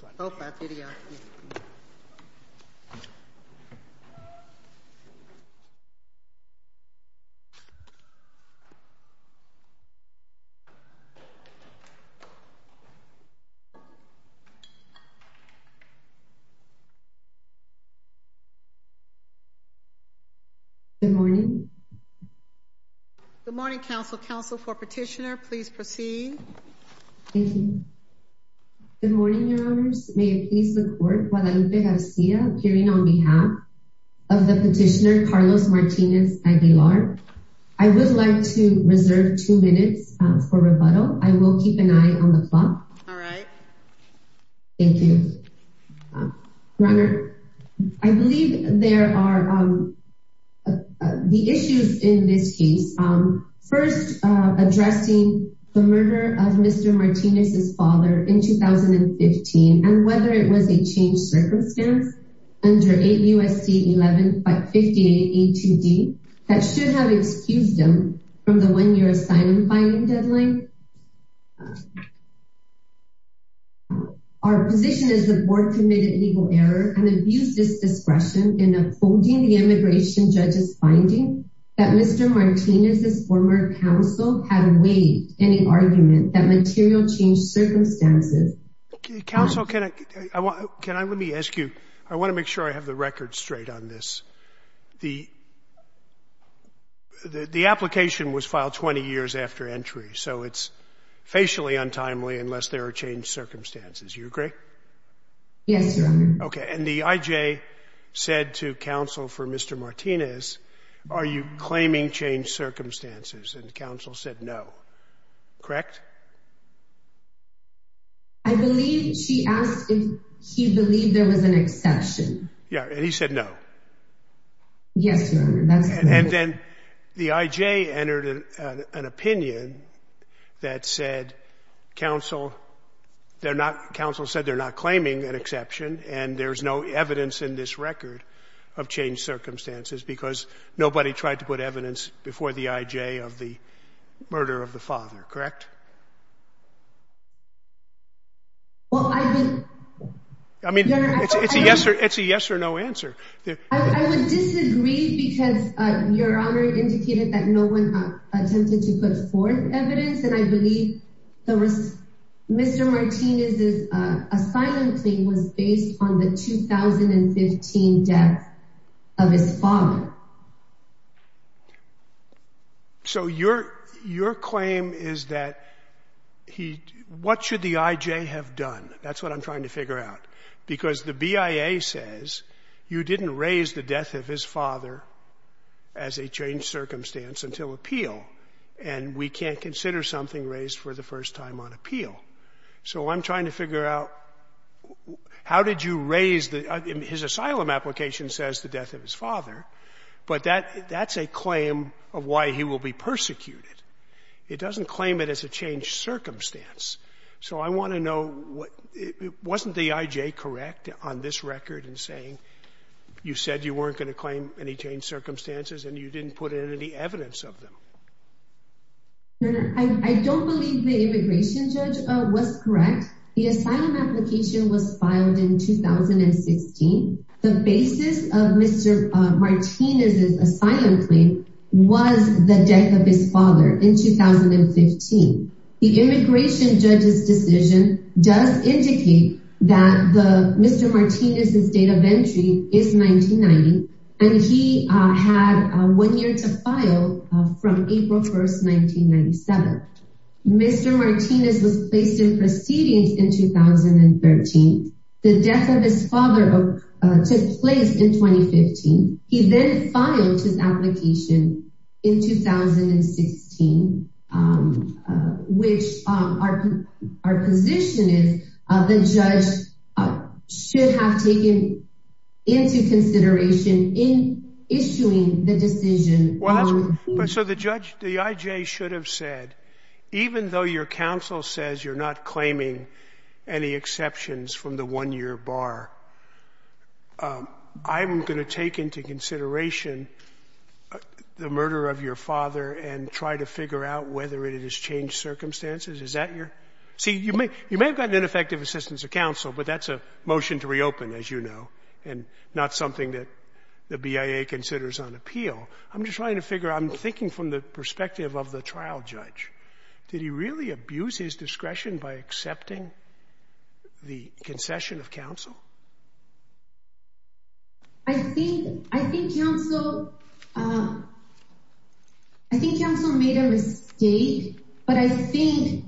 Good morning. Good morning Council. Council for Petitioner, please proceed. Thank you. Good morning, Your Honors. May it please the Court, Guadalupe Garcia appearing on behalf of the Petitioner Carlos Martinez-Aguilar. I would like to reserve two minutes for rebuttal. I will keep an eye on the clock. All right. Thank you. Your Honor, I believe there are the issues in this case. First, addressing the murder of Mr. Martinez's father in 2015, and whether it was a changed circumstance under 8 U.S.C. 58A2D, that should have excused him from the one-year assignment filing deadline. Our position is the Board committed legal error and abused its discretion in upholding the immigration judge's finding that Mr. Martinez's former counsel had waived any argument that material changed circumstances. Counsel can I, let me ask you, I want to make sure I have the record straight on this. The application was filed 20 years after entry, so it's facially untimely unless there are changed circumstances. You agree? Yes, Your Honor. Okay. And the I.J. said to counsel for Mr. Martinez, are you claiming changed circumstances, and counsel said no. Correct? I believe she asked if he believed there was an exception. Yeah. And he said no. Yes, Your Honor, that's correct. And then the I.J. entered an opinion that said counsel, they're not, counsel said they're not claiming an exception, and there's no evidence in this record of changed circumstances because nobody tried to put evidence before the I.J. of the murder of the father. Correct? Well, I would — I mean, it's a yes or no answer. I would disagree because Your Honor indicated that no one attempted to put forth evidence, and I believe Mr. Martinez's asylum claim was based on the 2015 death of his father. So your claim is that he — what should the I.J. have done? That's what I'm trying to figure out. Because the BIA says you didn't raise the death of his father as a changed circumstance until appeal, and we can't consider something raised for the first time on appeal. So I'm trying to figure out how did you raise the — his asylum application says the death of his father, but that's a claim of why he will be persecuted. It doesn't claim it as a changed circumstance. So I want to know what — wasn't the I.J. correct on this record in saying you said you weren't going to claim any changed circumstances and you didn't put in any evidence of them? Your Honor, I don't believe the immigration judge was correct. The asylum application was filed in 2016. The basis of Mr. Martinez's asylum claim was the death of his father in 2015. The immigration judge's decision does indicate that the — Mr. Martinez's date of entry is 1990, and he had one year to file from April 1st, 1997. Mr. Martinez was placed in proceedings in 2013. The death of his father took place in 2015. He then filed his application in 2016, which our position is the judge should have taken into consideration in issuing the decision on the — Well, that's — so the judge — the I.J. should have said, even though your counsel says you're not claiming any exceptions from the one-year bar, I'm going to take into consideration the murder of your father and try to figure out whether it is changed circumstances. Is that your — see, you may have gotten ineffective assistance of counsel, but that's a motion to reopen, as you know, and not something that the BIA considers on appeal. I'm just trying to figure out — I'm thinking from the perspective of the trial judge. Did he really abuse his discretion by accepting the concession of counsel? I think — I think counsel — I think counsel made a mistake, but I think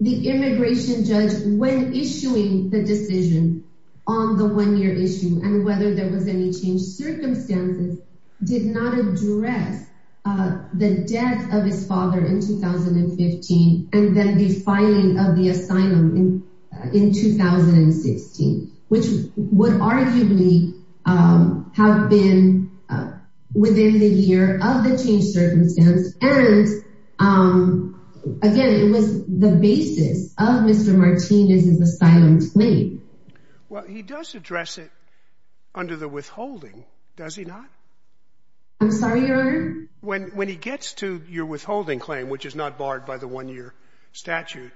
the immigration judge, when issuing the decision on the one-year issue and whether there was any changed circumstances, did not address the death of his father in 2015 and then the filing of the asylum in 2016, which would arguably have been within the year of the changed circumstance, and Again, it was the basis of Mr. Martinez's asylum claim. Well, he does address it under the withholding, does he not? I'm sorry, Your Honor? When he gets to your withholding claim, which is not barred by the one-year statute,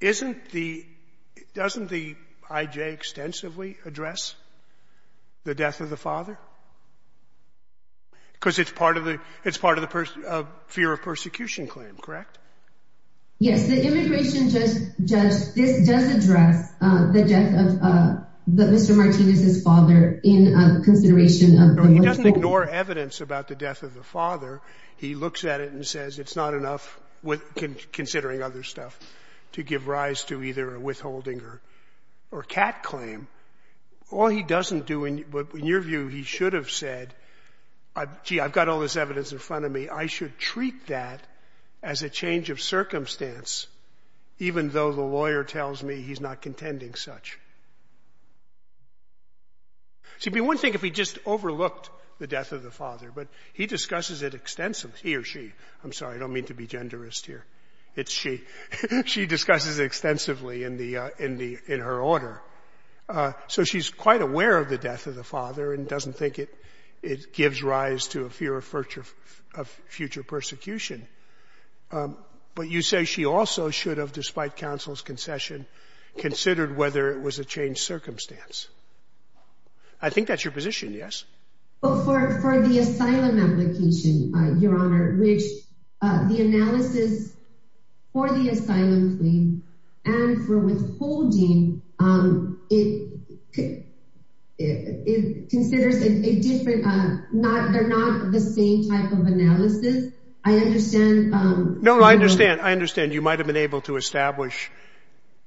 isn't the — doesn't the I.J. extensively address the death of the father? Because it's part of the — it's part of the fear of persecution claim, correct? Yes. The immigration judge — this does address the death of Mr. Martinez's father in consideration of the — No, he doesn't ignore evidence about the death of the father. He looks at it and says it's not enough, considering other stuff, to give rise to either a withholding or a CAT claim. All he doesn't do, in your view, he should have said, gee, I've got all this evidence in front of me. I should treat that as a change of circumstance, even though the lawyer tells me he's not contending such. It would be one thing if he just overlooked the death of the father, but he discusses it extensively — he or she, I'm sorry, I don't mean to be genderist here, it's she — she discusses it extensively in the — in her order. So she's quite aware of the death of the father and doesn't think it gives rise to a fear of future persecution. But you say she also should have, despite counsel's concession, considered whether it was a change of circumstance. I think that's your position, yes? But for the asylum application, your honor, which the analysis for the asylum claim and for withholding, it considers a different — they're not the same type of analysis. I understand — No, I understand. I understand. You might have been able to establish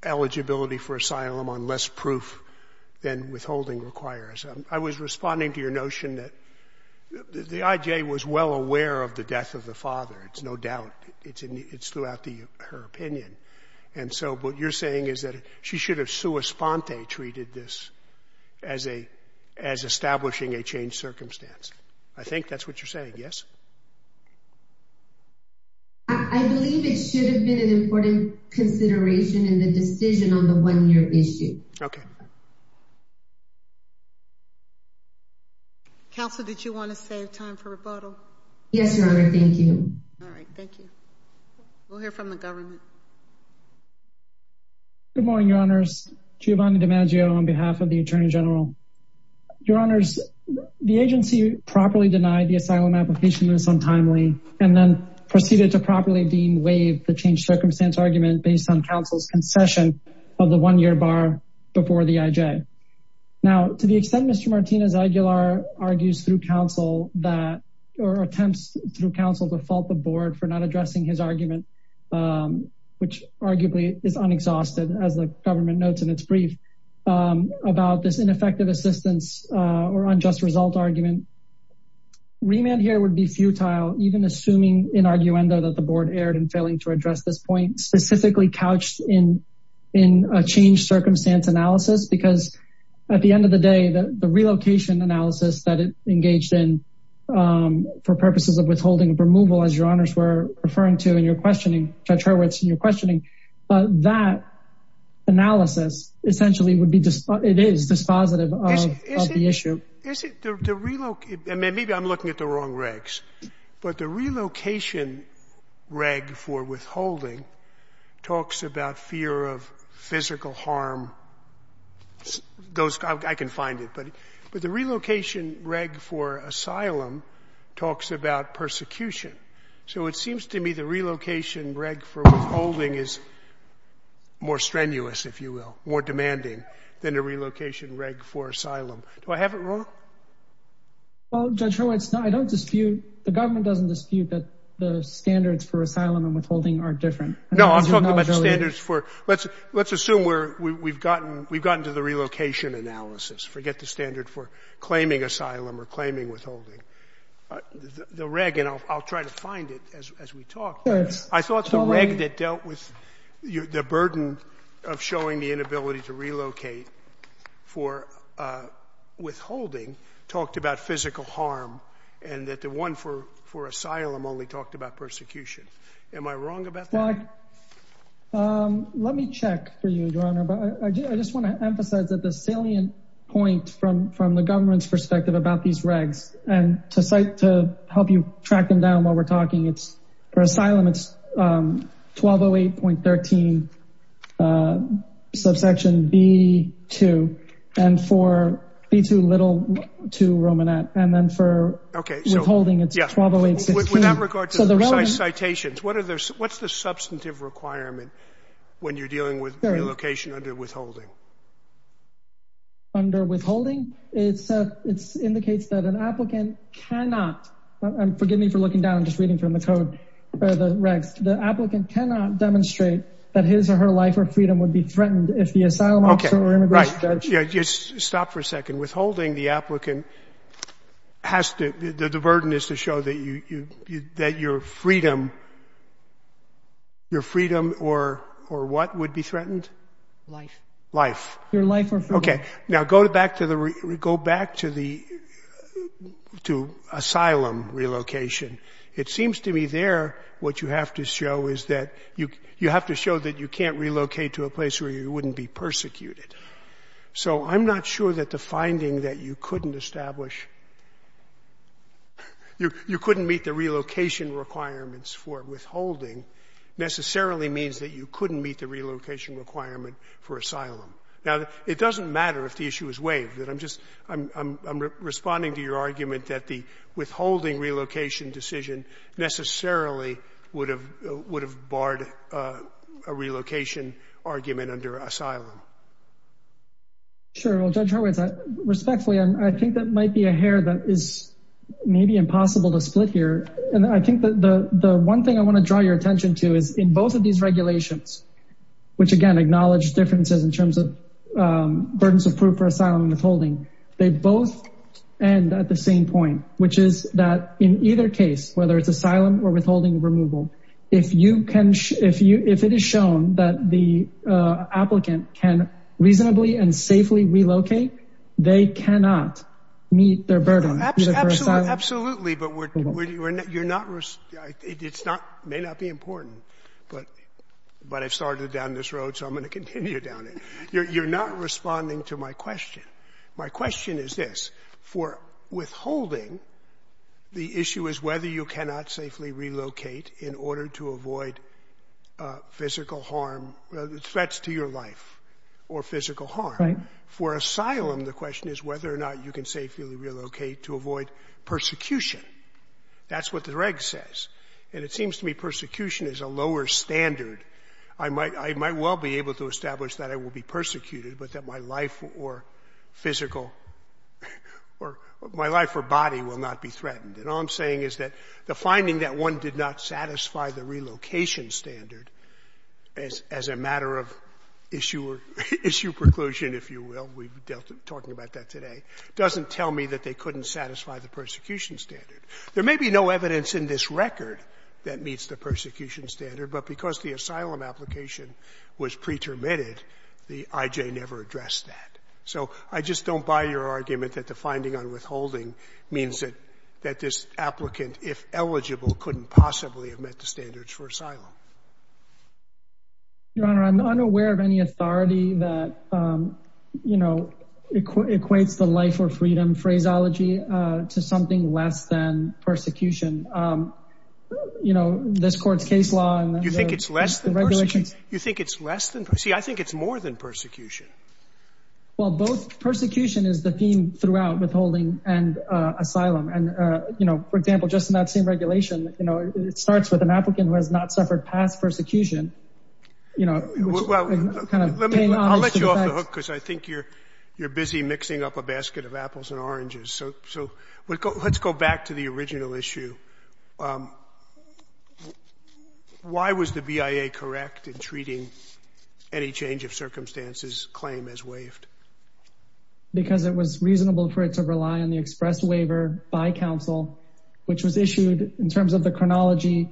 eligibility for asylum on less proof than withholding requires. I was responding to your notion that the IJ was well aware of the death of the father. It's no doubt. It's throughout her opinion. And so what you're saying is that she should have sua sponte treated this as a — as establishing a change of circumstance. I think that's what you're saying, yes? I believe it should have been an important consideration in the decision on the one-year issue. Okay. Counsel, did you want to save time for rebuttal? Yes, your honor. Thank you. All right. Thank you. We'll hear from the government. Good morning, your honors. Giovanni DiMaggio on behalf of the attorney general. Your honors, the agency properly denied the asylum application was untimely and then proceeded to properly deem waived the change of circumstance argument based on counsel's concession of the one-year bar before the IJ. Now, to the extent Mr. Martinez-Aguilar argues through counsel that — or attempts through counsel to fault the board for not addressing his argument, which arguably is unexhausted as the government notes in its brief, about this ineffective assistance or unjust result argument, remand here would be futile, even assuming in arguendo that the board erred in failing to address this point, specifically couched in a change circumstance analysis because at the end of the day, the relocation analysis that it engaged in for purposes of withholding removal, as your honors were referring to in your questioning, Judge Hurwitz, in your questioning, that analysis essentially would be — it is dispositive of the issue. And is it the — maybe I'm looking at the wrong regs, but the relocation reg for withholding talks about fear of physical harm, those — I can find it, but the relocation reg for asylum talks about persecution. So it seems to me the relocation reg for withholding is more strenuous, if you will, more demanding than the relocation reg for asylum. Do I have it wrong? MR. HURWITZ. Well, Judge Hurwitz, I don't dispute — the government doesn't dispute that the standards I think it's an ineligibility — JUSTICE SCALIA. No, I'm talking about the standards for — let's assume we're — we've gotten to the relocation analysis. Forget the standard for claiming asylum or claiming withholding. The reg — and I'll try to find it as we talk, but I thought the reg that dealt with the burden of showing the inability to relocate for withholding talked about physical harm and that the one for asylum only talked about persecution. Am I wrong about that? HURWITZ. Well, let me check for you, Your Honor, but I just want to emphasize that the salient point from the government's perspective about these regs — and to help you track them down while we're talking, it's — for asylum, it's 1208.13 subsection B-2, and for B-2, little 2 Romanet, and then for withholding, it's 1208.16. JUSTICE SCALIA. With that regard to the precise citations, what are the — what's the substantive requirement when you're dealing with relocation under withholding? HURWITZ. Under withholding, it's — it indicates that an applicant cannot — forgive me for looking down and just reading from the code — or the regs — the applicant cannot demonstrate that his or her life or freedom would be threatened if the asylum officer or immigration judge — JUSTICE SCALIA. Okay. Right. Yeah, just stop for a second. Withholding the applicant has to — the burden is to show that you — that your freedom — your freedom or what would be threatened? HURWITZ. JUSTICE SCALIA. Life. HURWITZ. Your life or freedom. JUSTICE SCALIA. Okay. It seems to me there what you have to show is that you — you have to show that you can't relocate to a place where you wouldn't be persecuted. So I'm not sure that the finding that you couldn't establish — you couldn't meet the relocation requirements for withholding necessarily means that you couldn't meet the relocation requirement for asylum. Now, it doesn't matter if the issue is waived. I'm just — I'm responding to your argument that the withholding relocation decision necessarily would have barred a relocation argument under asylum. Sure. Well, Judge Hurwitz, respectfully, I think that might be a hair that is maybe impossible to split here. And I think that the one thing I want to draw your attention to is in both of these regulations, which, again, acknowledge differences in terms of burdens of proof for asylum and withholding, they both end at the same point, which is that in either case, whether it's asylum or withholding removal, if you can — if you — if it is shown that the applicant can reasonably and safely relocate, they cannot meet their burden, either for asylum or — But I've started down this road, so I'm going to continue down it. You're not responding to my question. My question is this. For withholding, the issue is whether you cannot safely relocate in order to avoid physical harm — threats to your life or physical harm. For asylum, the question is whether or not you can safely relocate to avoid persecution. That's what the reg says. And it seems to me persecution is a lower standard. I might — I might well be able to establish that I will be persecuted, but that my life or physical — or my life or body will not be threatened. And all I'm saying is that the finding that one did not satisfy the relocation standard as a matter of issue or — issue preclusion, if you will — we're talking about that today — doesn't tell me that they couldn't satisfy the persecution standard. There may be no evidence in this record that meets the persecution standard, but because the asylum application was pretermitted, the IJ never addressed that. So I just don't buy your argument that the finding on withholding means that this applicant, if eligible, couldn't possibly have met the standards for asylum. Your Honor, I'm unaware of any authority that, you know, equates the life or freedom phraseology to something less than persecution. You know, this court's case law and — You think it's less than persecution? You think it's less than — see, I think it's more than persecution. Well, both — persecution is the theme throughout withholding and asylum. And you know, for example, just in that same regulation, you know, it starts with an applicant who has not suffered past persecution, you know, which is kind of paying off its defense. Well, let me — I'll let you off the hook because I think you're — you're busy mixing up a basket of apples and oranges. So let's go back to the original issue. Why was the BIA correct in treating any change of circumstances claim as waived? Because it was reasonable for it to rely on the express waiver by counsel, which was issued in terms of the chronology.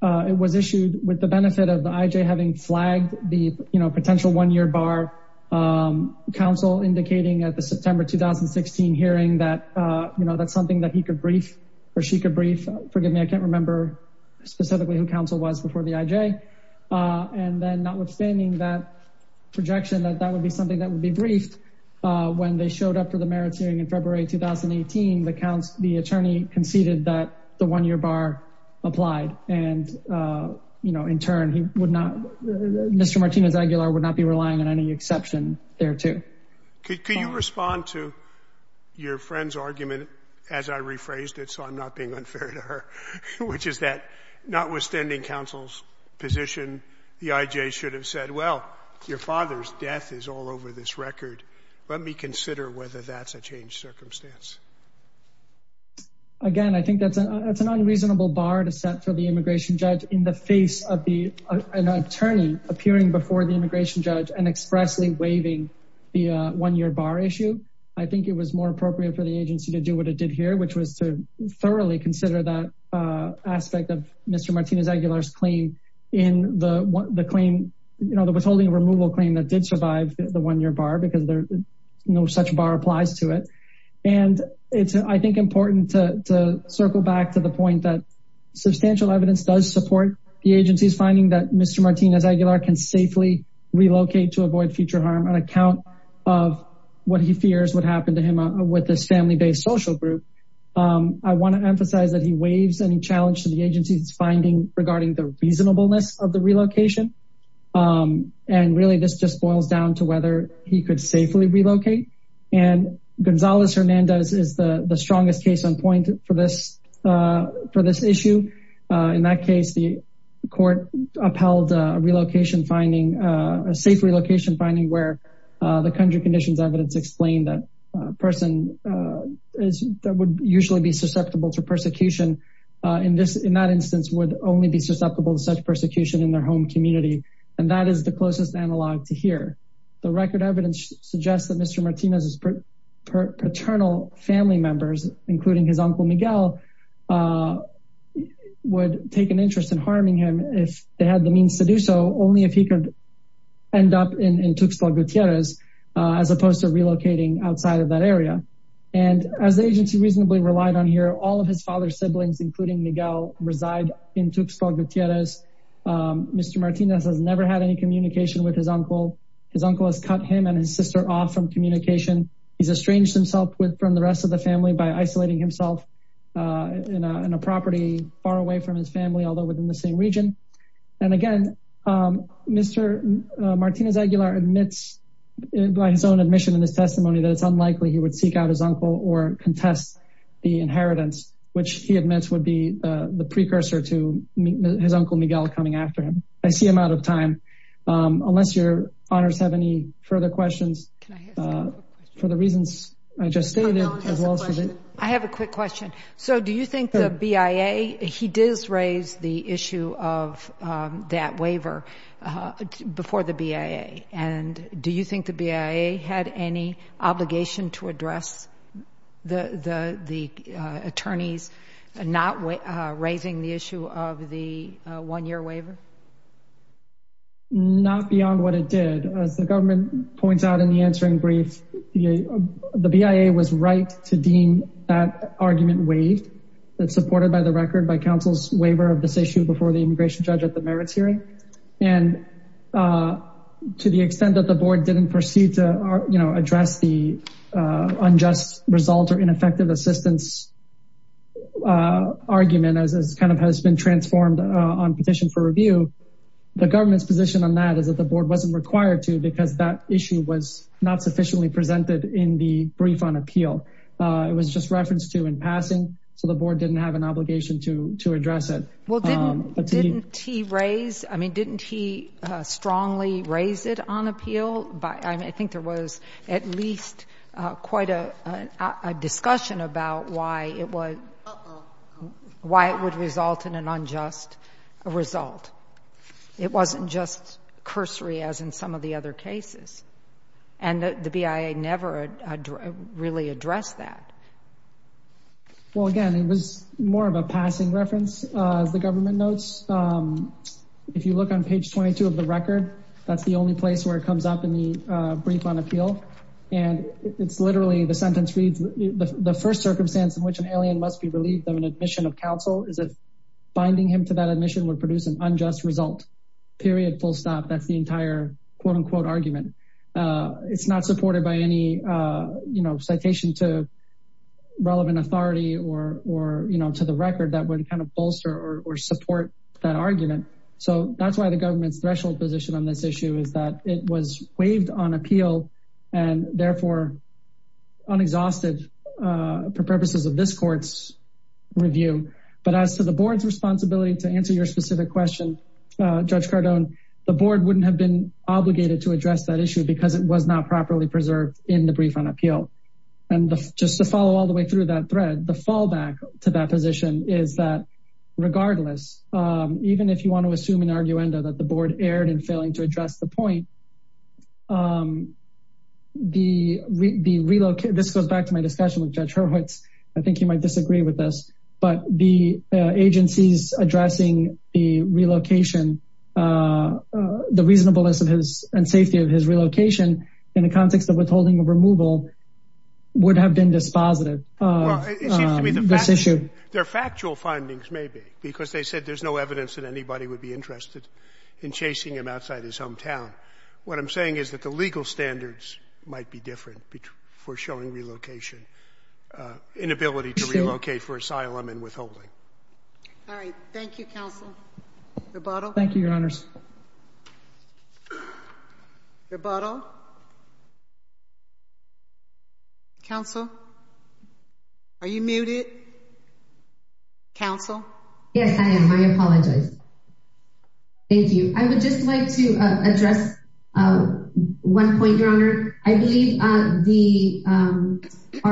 It was issued with the benefit of the IJ having flagged the, you know, potential one-year bar. Counsel indicating at the September 2016 hearing that, you know, that's something that he could brief or she could brief — forgive me, I can't remember specifically who counsel was before the IJ. And then notwithstanding that projection that that would be something that would be briefed, when they showed up for the merits hearing in February 2018, the counsel — the attorney conceded that the one-year bar applied and, you know, in turn, he would not — Mr. Martinez-Aguilar would not be relying on any exception thereto. Could you respond to your friend's argument, as I rephrased it, so I'm not being unfair to her, which is that, notwithstanding counsel's position, the IJ should have said, well, your father's death is all over this record. Let me consider whether that's a changed circumstance. Again, I think that's an unreasonable bar to set for the immigration judge in the face of an attorney appearing before the immigration judge and expressly waiving the one-year bar issue. I think it was more appropriate for the agency to do what it did here, which was to thoroughly consider that aspect of Mr. Martinez-Aguilar's claim in the claim — you know, the withholding removal claim that did survive the one-year bar, because no such bar applies to it. And it's, I think, important to circle back to the point that substantial evidence does support the agency's finding that Mr. Martinez-Aguilar can safely relocate to avoid future harm on account of what he fears would happen to him with this family-based social group. I want to emphasize that he waives any challenge to the agency's finding regarding the reasonableness of the relocation. And really, this just boils down to whether he could safely relocate. And Gonzalez-Hernandez is the strongest case on point for this issue. In that case, the court upheld a relocation finding — a safe relocation finding — where the country conditions evidence explained that a person that would usually be susceptible to persecution in that instance would only be susceptible to such persecution in their home community. And that is the closest analog to here. The record evidence suggests that Mr. Martinez's paternal family members, including his uncle Miguel, would take an interest in harming him if they had the means to do so, only if he could end up in Tuxtla Gutierrez, as opposed to relocating outside of that area. And as the agency reasonably relied on here, all of his father's siblings, including Miguel, reside in Tuxtla Gutierrez. Mr. Martinez has never had any communication with his uncle. His uncle has cut him and his sister off from communication. He's estranged himself from the rest of the family by isolating himself in a property far away from his family, although within the same region. And again, Mr. Martinez Aguilar admits by his own admission in his testimony that it's unlikely he would seek out his uncle or contest the inheritance, which he admits would be the precursor to his uncle Miguel coming after him. I see I'm out of time. Unless your honors have any further questions, for the reasons I just stated, as well as- I have a quick question. So do you think the BIA, he did raise the issue of that waiver before the BIA, and do you think the BIA had any obligation to address the attorneys not raising the issue of the one-year waiver? Not beyond what it did. As the government points out in the answering brief, the BIA was right to deem that argument waived, that's supported by the record by counsel's waiver of this issue before the immigration judge at the merits hearing. And to the extent that the board didn't proceed to address the unjust result or ineffective assistance argument as kind of has been transformed on petition for review, the government's position on that is that the board wasn't required to because that issue was not sufficiently presented in the brief on appeal. It was just referenced to in passing, so the board didn't have an obligation to address it. Well, didn't he raise, I mean, didn't he strongly raise it on appeal? I think there was at least quite a discussion about why it would result in an unjust result. It wasn't just cursory as in some of the other cases. And the BIA never really addressed that. Well, again, it was more of a passing reference, as the government notes. If you look on page 22 of the record, that's the only place where it comes up in the brief on appeal. And it's literally the sentence reads, the first circumstance in which an alien must be relieved of an admission of counsel is that binding him to that admission would produce an unjust result, period, full stop. That's the entire quote unquote argument. It's not supported by any citation to relevant authority or to the record that would kind of bolster or support that argument. So that's why the government's threshold position on this issue is that it was waived on appeal and therefore unexhausted for purposes of this court's review. But as to the board's responsibility to answer your specific question, Judge Cardone, the board wouldn't have been obligated to address that issue because it was not properly preserved in the brief on appeal. And just to follow all the way through that thread, the fallback to that position is that regardless, even if you want to assume an arguenda that the board erred in failing to address the point, this goes back to my discussion with Judge Hurwitz, I think you might disagree with this, but the agencies addressing the relocation, the reasonableness and safety of his relocation in the context of withholding a removal would have been dispositive of this issue. Their factual findings may be, because they said there's no evidence that anybody would be interested in chasing him outside his hometown. What I'm saying is that the legal standards might be different for showing relocation, inability to relocate for asylum and withholding. All right. Thank you, counsel. Thank you, Your Honors. Rebuttal? Rebuttal? Counsel? Are you muted? Counsel? Yes, I am. I apologize. Thank you. I would just like to address one point, Your Honor. I believe our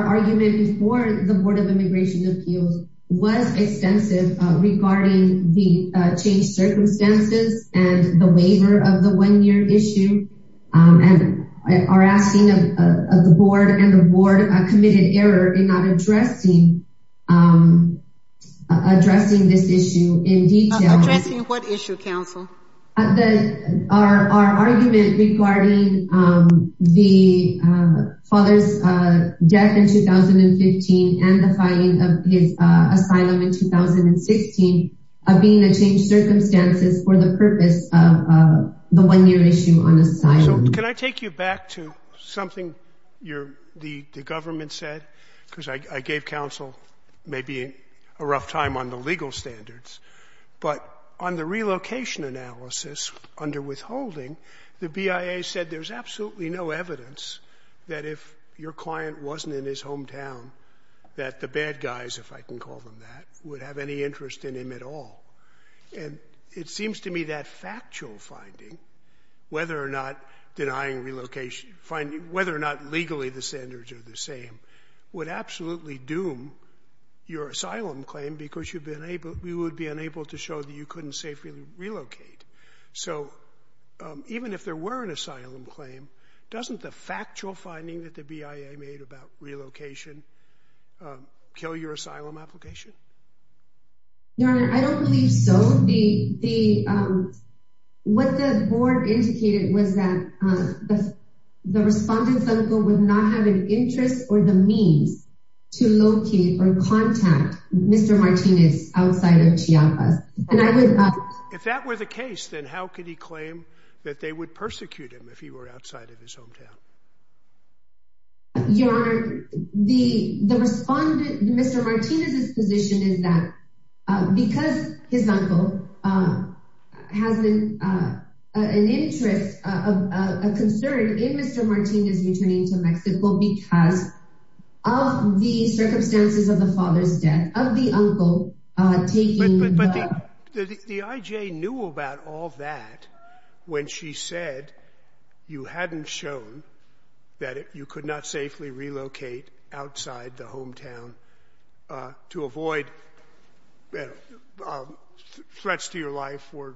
argument before the Board of Immigration Appeals was extensive regarding the changed circumstances and the waiver of the one-year issue and our asking of the board and the board a committed error in not addressing this issue in detail. Addressing what issue, counsel? Our argument regarding the father's death in 2015 and the finding of his asylum in 2016 of being a changed circumstances for the purpose of the one-year issue on asylum. So can I take you back to something the government said? Because I gave counsel maybe a rough time on the legal standards. But on the relocation analysis under withholding, the BIA said there's absolutely no evidence that if your client wasn't in his hometown that the bad guys, if I can call them that, would have any interest in him at all. And it seems to me that factual finding, whether or not denying relocation, whether or not legally the standards are the same, would absolutely doom your asylum claim because you would be unable to show that you couldn't safely relocate. So even if there were an asylum claim, doesn't the factual finding that the BIA made about relocation kill your asylum application? Your Honor, I don't believe so. What the board indicated was that the respondent's uncle would not have an interest or the means to locate or contact Mr. Martinez outside of Chiapas. If that were the case, then how could he claim that they would persecute him if he were outside of his hometown? Your Honor, the respondent, Mr. Martinez's position is that because his uncle has an interest, a concern in Mr. Martinez returning to Mexico because of the circumstances of the father's death, of the uncle taking... The IJ knew about all that when she said you hadn't shown that you could not safely relocate outside the hometown to avoid threats to your life or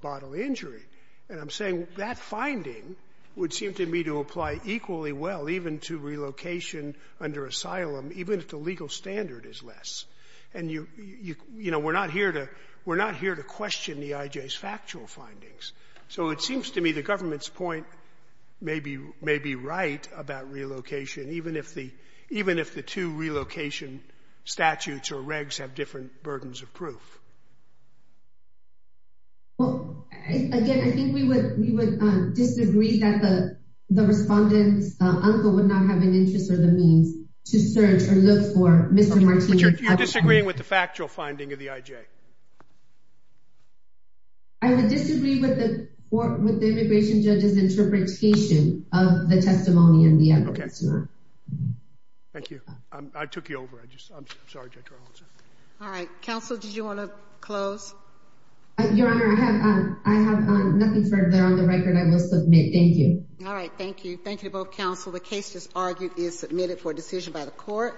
bodily injury. And I'm saying that finding would seem to me to apply equally well even to relocation under asylum, even if the legal standard is less. And, you know, we're not here to question the IJ's factual findings. So it seems to me the government's point may be right about relocation, even if the two relocation statutes or regs have different burdens of proof. Well, again, I think we would disagree that the respondent's uncle would not have an interest to search or look for Mr. Martinez. But you're disagreeing with the factual finding of the IJ? I would disagree with the immigration judge's interpretation of the testimony and the evidence. Okay. Thank you. I took you over. I'm sorry. All right. Counsel, did you want to close? Your Honor, I have nothing further on the record. I will submit. Thank you. All right. Thank you. Thank you to both counsel. The case, as argued, is submitted for decision by the Court.